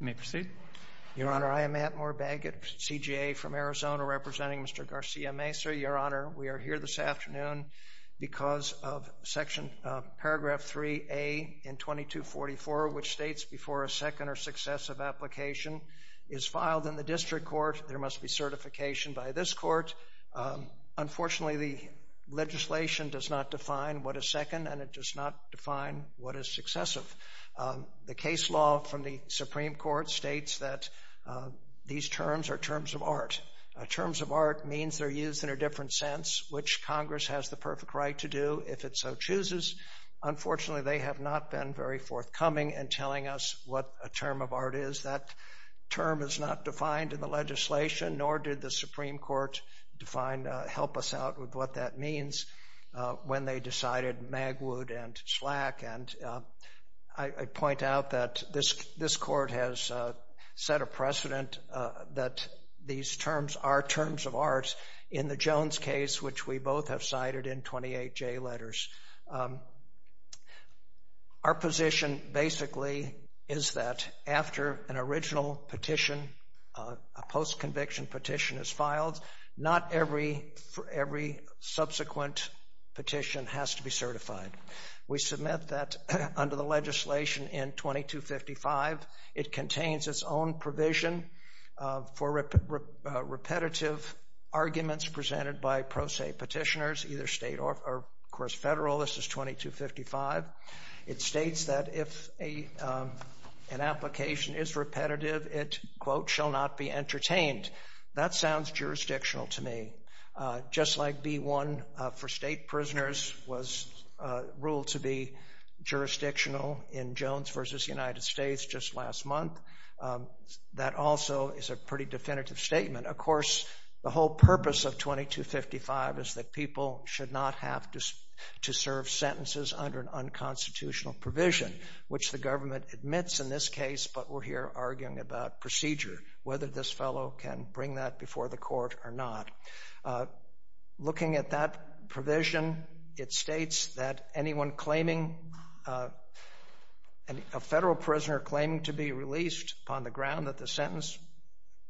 You may proceed. Your Honor, I am Matt Moore Baggett, CJA, from Arizona representing Mr. Garcia-Mesa. Your Honor, we are here this afternoon because of paragraph 3A in 2244, which states, before a second or successive application is filed in the district court, there must be certification by this court. Unfortunately, the legislation does not define what a second and it does not define what is successive. The case law from the Supreme Court states that these terms are terms of art. Terms of art means they're used in a different sense, which Congress has the perfect right to do if it so chooses. Unfortunately, they have not been very forthcoming in telling us what a term of art is. That term is not defined in the legislation, nor did the Supreme Court define, help us out with what that means when they decided Magwood and Slack. And I point out that this this court has set a precedent that these terms are terms of art in the Jones case, which we both have cited in 28 J letters. Our position basically is that after an original petition, a post-conviction petition is filed, not every subsequent petition has to be certified. We submit that under the legislation in 2255. It contains its own provision for repetitive arguments presented by pro se petitioners, either state or, of course, federal. This is 2255. It states that if an application is repetitive, it, quote, shall not be entertained. That sounds jurisdictional to me. Just like B1 for state prisoners was ruled to be jurisdictional in Jones v. United States just last month, that also is a pretty definitive statement. Of course, the whole purpose of 2255 is that people should not have to serve sentences under an unconstitutional provision, which the government admits in this case, but we're here arguing about procedure, whether this fellow can bring that before the court or not. Looking at that provision, it states that anyone claiming, a federal prisoner claiming to be released on the ground that the sentence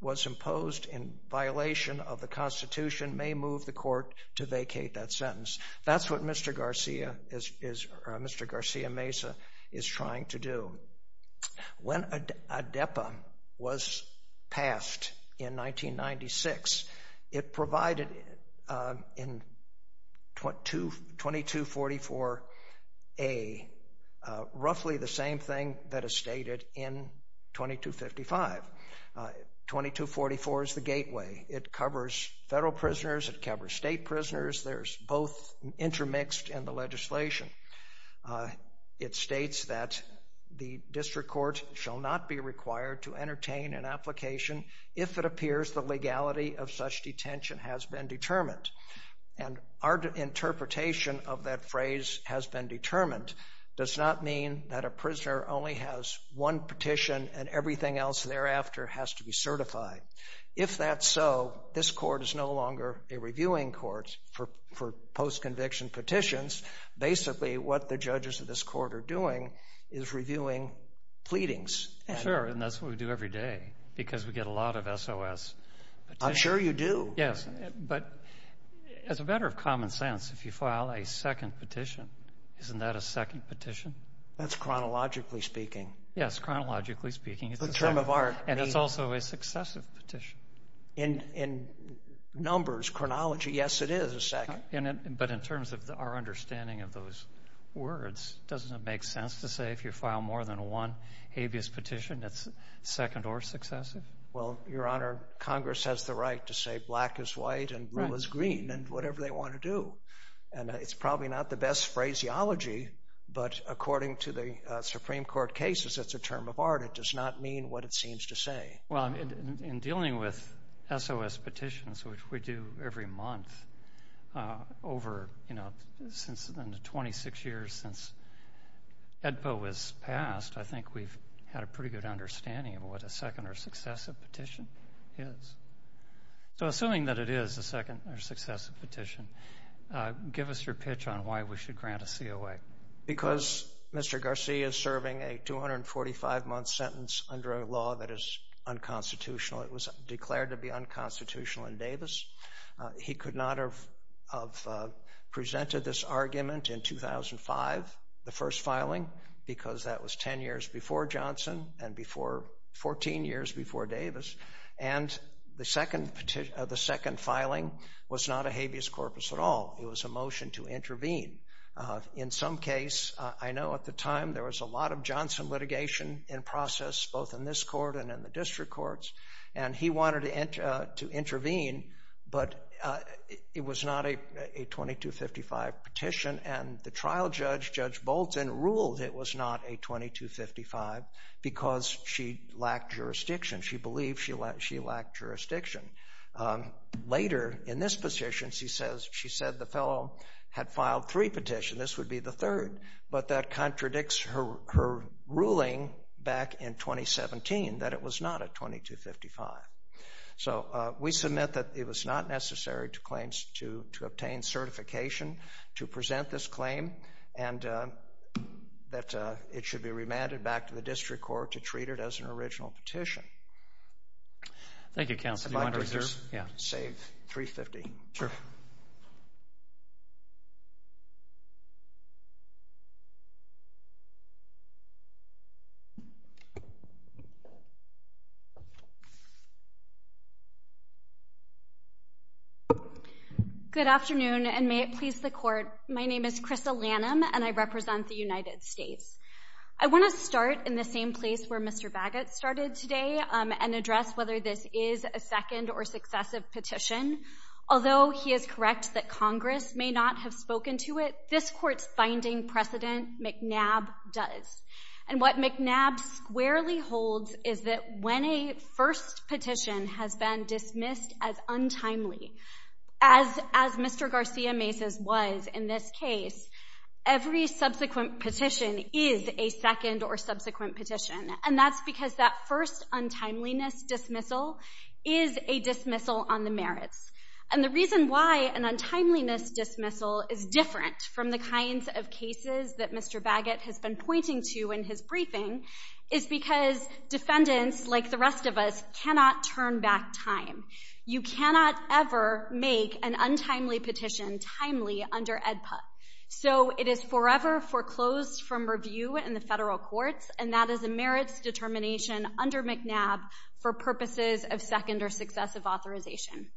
was imposed in violation of the Constitution may move the court to vacate that sentence. That's what Mr. Garcia is, Mr. Garcia Mesa is trying to It provided in 2244A roughly the same thing that is stated in 2255. 2244 is the gateway. It covers federal prisoners. It covers state prisoners. There's both intermixed in the legislation. It states that the district court shall not be of such detention has been determined. And our interpretation of that phrase has been determined does not mean that a prisoner only has one petition and everything else thereafter has to be certified. If that's so, this court is no longer a reviewing court for post-conviction petitions. Basically, what the judges of this court are doing is reviewing pleadings. And that's what we do every day because we get a lot of S. O. S. I'm sure you do. Yes, but as a matter of common sense, if you file a second petition, isn't that a second petition? That's chronologically speaking. Yes, chronologically speaking, it's the term of art. And it's also a successive petition in in numbers. Chronology. Yes, it is a second. But in terms of our understanding of those words, doesn't it make sense to say if you file more than one habeas petition, it's second or successive? Well, Your Honor, Congress has the right to say black is white and blue is green and whatever they want to do. And it's probably not the best phraseology, but according to the Supreme Court cases, it's a term of art. It does not mean what it seems to say. Well, in dealing with S. O. S. Edpo was passed. I think we've had a pretty good understanding of what a second or successive petition is. So assuming that it is a second or successive petition, give us your pitch on why we should grant a C. O. A. Because Mr Garcia is serving a 245 month sentence under a law that is unconstitutional. It was declared to be unconstitutional in Davis. He could not have presented this argument in 2005. The first filing because that was 10 years before Johnson and before 14 years before Davis and the second of the second filing was not a habeas corpus at all. It was a motion to intervene. In some case, I know at the time there was a lot of Johnson litigation in process, both in this court and in the district courts, and he wanted to intervene. But it was not a 2255 petition, and the trial judge, Judge Bolton, ruled it was not a 2255 because she lacked jurisdiction. She believed she lacked jurisdiction. Later in this position, she said the fellow had filed three petitions. This would be the third. But that contradicts her ruling back in to claims to obtain certification to present this claim and that it should be remanded back to the district court to treat it as an original petition. Thank you, Counselor. Yeah, save 3 50. Good afternoon, and may it please the court. My name is Crystal Lanham, and I represent the United States. I want to start in the same place where Mr Bagot started today on and address whether this is a second or successive petition. Although he is correct that Congress may not have spoken to it, this court's binding precedent McNabb does and what McNabb squarely holds is that when a first petition has been dismissed as untimely as as Mr Garcia Mesa's was in this case, every subsequent petition is a second or subsequent petition. And that's because that first untimeliness dismissal is a dismissal on the merits. And the reason why an untimeliness dismissal is different from the kinds of cases that Mr Bagot has been pointing to in his the rest of us cannot turn back time. You cannot ever make an untimely petition timely under Ed put. So it is forever foreclosed from review in the federal courts, and that is a merits determination under McNabb for purposes of second or successive authorization.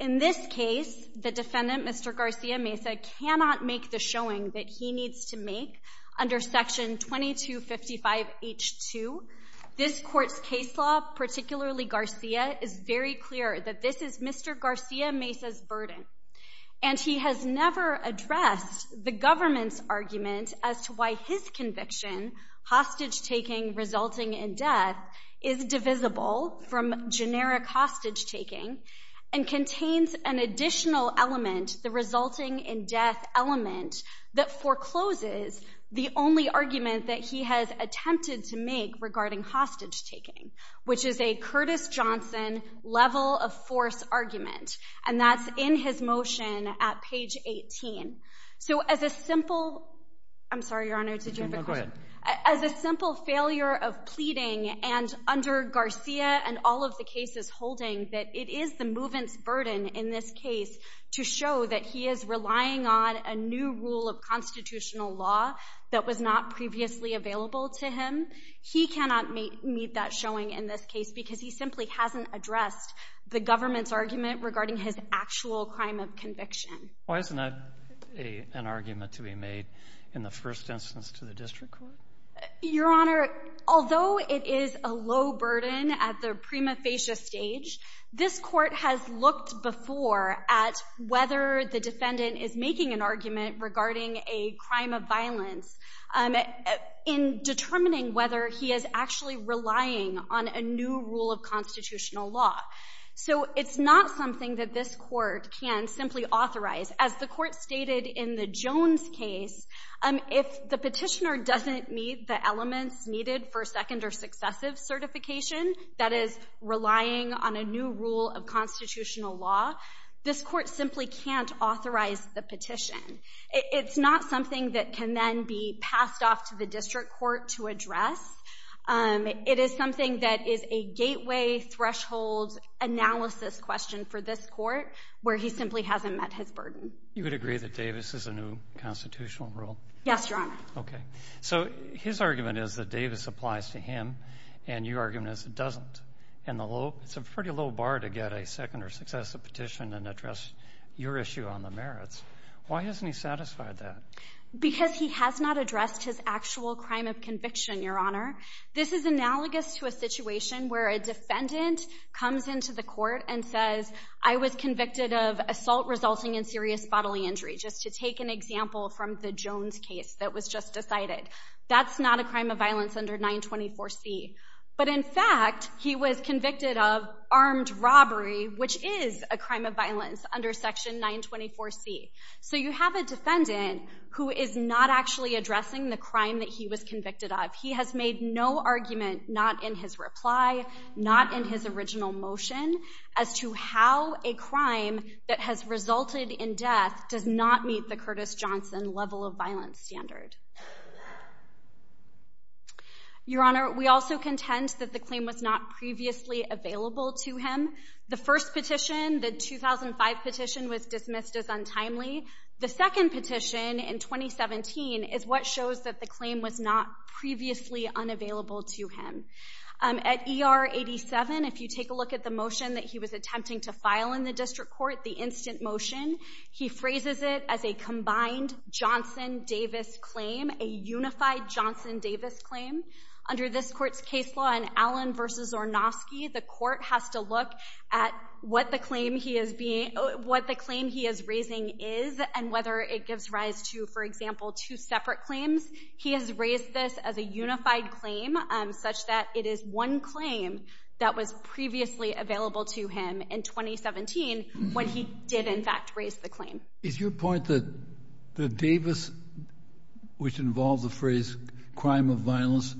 In this case, the defendant, Mr Garcia Mesa, cannot make the showing that he needs to make under Section 22 55 h 2. This court's case law, particularly Garcia, is very clear that this is Mr Garcia Mesa's burden. And he has never addressed the government's argument as to why his conviction, hostage-taking resulting in death, is divisible from generic hostage-taking and contains an additional element, the resulting in attempted to make regarding hostage-taking, which is a Curtis Johnson level of force argument. And that's in his motion at page 18. So as a simple I'm sorry, Your Honor, did you have a quick as a simple failure of pleading and under Garcia and all of the cases holding that it is the movement's burden in this case to show that he is relying on a new rule of constitutional law that was not previously available to him. He cannot meet that showing in this case because he simply hasn't addressed the government's argument regarding his actual crime of conviction. Why isn't that a an argument to be made in the first instance to the district court? Your Honor, although it is a low burden at the prima facie stage, this court has looked before at whether the petitioner is relying on a new rule of constitutional law. So it's not something that this court can simply authorize. As the court stated in the Jones case, if the petitioner doesn't meet the elements needed for second or successive certification, that is relying on a new rule of constitutional law, this court simply can't authorize the petitioner to do that. It can then be passed off to the district court to address. It is something that is a gateway threshold analysis question for this court where he simply hasn't met his burden. You would agree that Davis is a new constitutional rule? Yes, Your Honor. Okay, so his argument is that Davis applies to him and your argument is it doesn't. It's a pretty low bar to get a second or successive petition and address your issue on the merits. Why hasn't he satisfied that? Because he has not addressed his actual crime of conviction, Your Honor. This is analogous to a situation where a defendant comes into the court and says, I was convicted of assault resulting in serious bodily injury, just to take an example from the Jones case that was just decided. That's not a crime of violence under 924 C. But in fact, he was convicted of armed robbery, which is a defendant who is not actually addressing the crime that he was convicted of. He has made no argument, not in his reply, not in his original motion, as to how a crime that has resulted in death does not meet the Curtis Johnson level of violence standard. Your Honor, we also contend that the claim was not previously available to him. The first petition, the 2005 petition, was dismissed as untimely. The second petition, in 2017, is what shows that the claim was not previously unavailable to him. At ER 87, if you take a look at the motion that he was attempting to file in the district court, the instant motion, he phrases it as a combined Johnson-Davis claim, a unified Johnson-Davis claim. Under this court's case law in Allen v. Zornofsky, the court has to look at what the claim he is raising is, and whether it gives rise to, for example, two separate claims. He has raised this as a unified claim, such that it is one claim that was previously available to him in 2017, when he did, in fact, raise the claim. Is your point that the Davis, which involves the phrase crime of violence,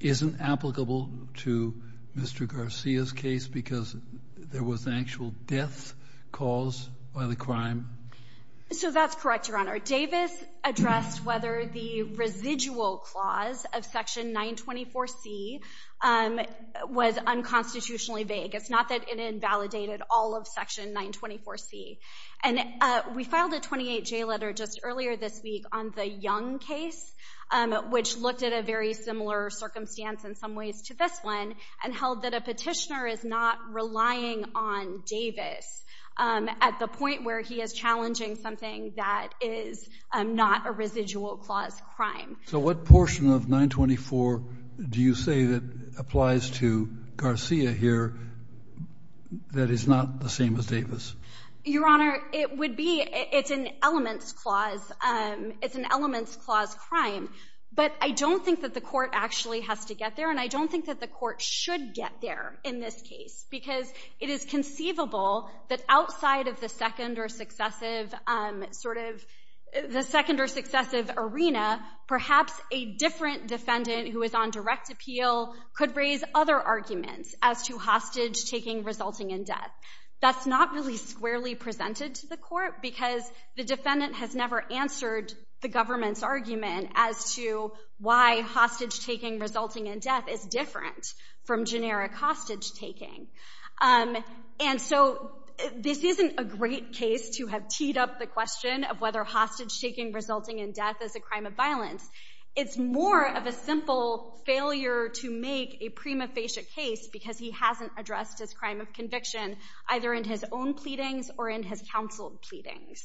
isn't applicable to Mr. Garcia's case because there was an actual death caused by the crime? So that's correct, Your Honor. Davis addressed whether the residual clause of Section 924C was unconstitutionally vague. It's not that it invalidated all of Section 924C. And we filed a 28-J letter just earlier this week, in some ways, to this one, and held that a petitioner is not relying on Davis at the point where he is challenging something that is not a residual-clause crime. So what portion of 924 do you say that applies to Garcia here that is not the same as Davis? Your Honor, it would be — it's an elements clause. It's an elements-clause crime. But I don't think that the court actually has to get there and I don't think that the court should get there, in this case, because it is conceivable that outside of the second or successive, sort of, the second or successive arena, perhaps a different defendant who is on direct appeal could raise other arguments as to hostage-taking resulting in death. That's not really squarely presented to the court because the defendant has never answered the government's argument as to why hostage-taking resulting in death is different from generic hostage-taking. And so this isn't a great case to have teed up the question of whether hostage-taking resulting in death is a crime of violence. It's more of a simple failure to make a prima facie case because he hasn't addressed his crime of conviction, either in his own pleadings or in his counseled pleadings.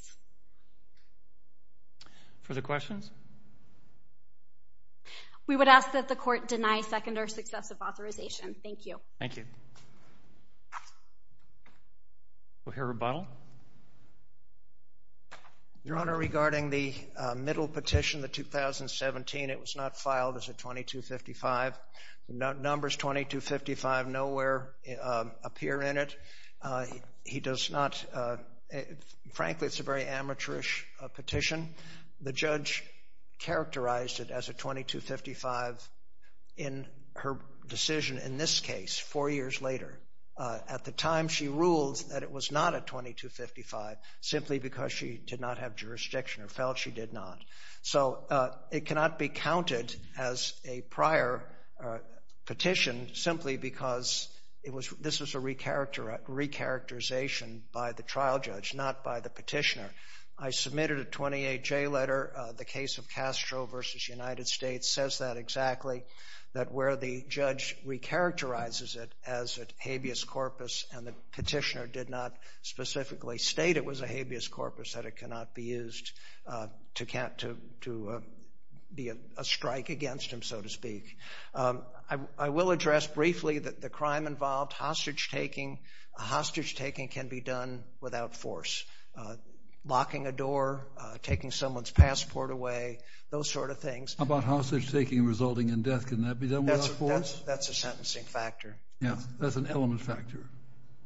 Further questions? We would ask that the court deny second or successive authorization. Thank you. Thank you. We'll hear rebuttal. Your Honor, regarding the middle petition, the 2017, it was not filed as a 2255. The numbers 2255 nowhere appear in it. He does not, frankly, it's a very amateurish petition. The judge characterized it as a 2255 in her decision in this case, four years later. At the time she ruled that it was not a 2255 simply because she did not have jurisdiction or felt she did not. So it cannot be counted as a prior petition simply because it was, this was a re-characterization by the trial judge, not by the petitioner. I submitted a 28J letter, the case of Castro versus United States, says that exactly, that where the judge re-characterizes it as a habeas corpus and the petitioner did not specifically state it was a habeas corpus, that it cannot be used to be a strike against him, so to speak. I will address briefly that the crime involved, hostage-taking, hostage-taking can be done without force. Locking a door, taking someone's passport away, those sort of things. How about hostage-taking resulting in death, can that be done without force? That's a sentencing factor. Yeah, that's an element factor.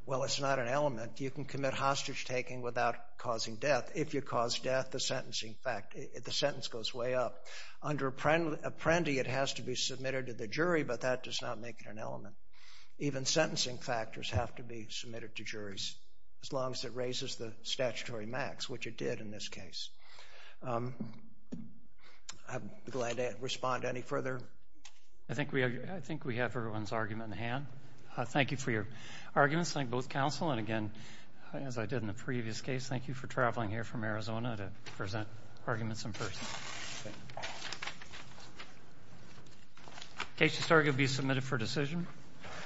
Well, it's not an element. You can commit hostage-taking without causing death. If you cause death, the sentencing fact, the sentence goes way up. Under Apprendi, it has to be submitted to the jury, but that does not make it an element. Even sentencing factors have to be submitted to juries, as long as it raises the statutory max, which it did in this case. I'm glad to respond to any further. I think we have everyone's argument in the hand. Thank you for your arguments, thank both counsel, and again, as I did in the previous case, thank you for traveling here from Arizona to present arguments in person. Case to start will be submitted for decision.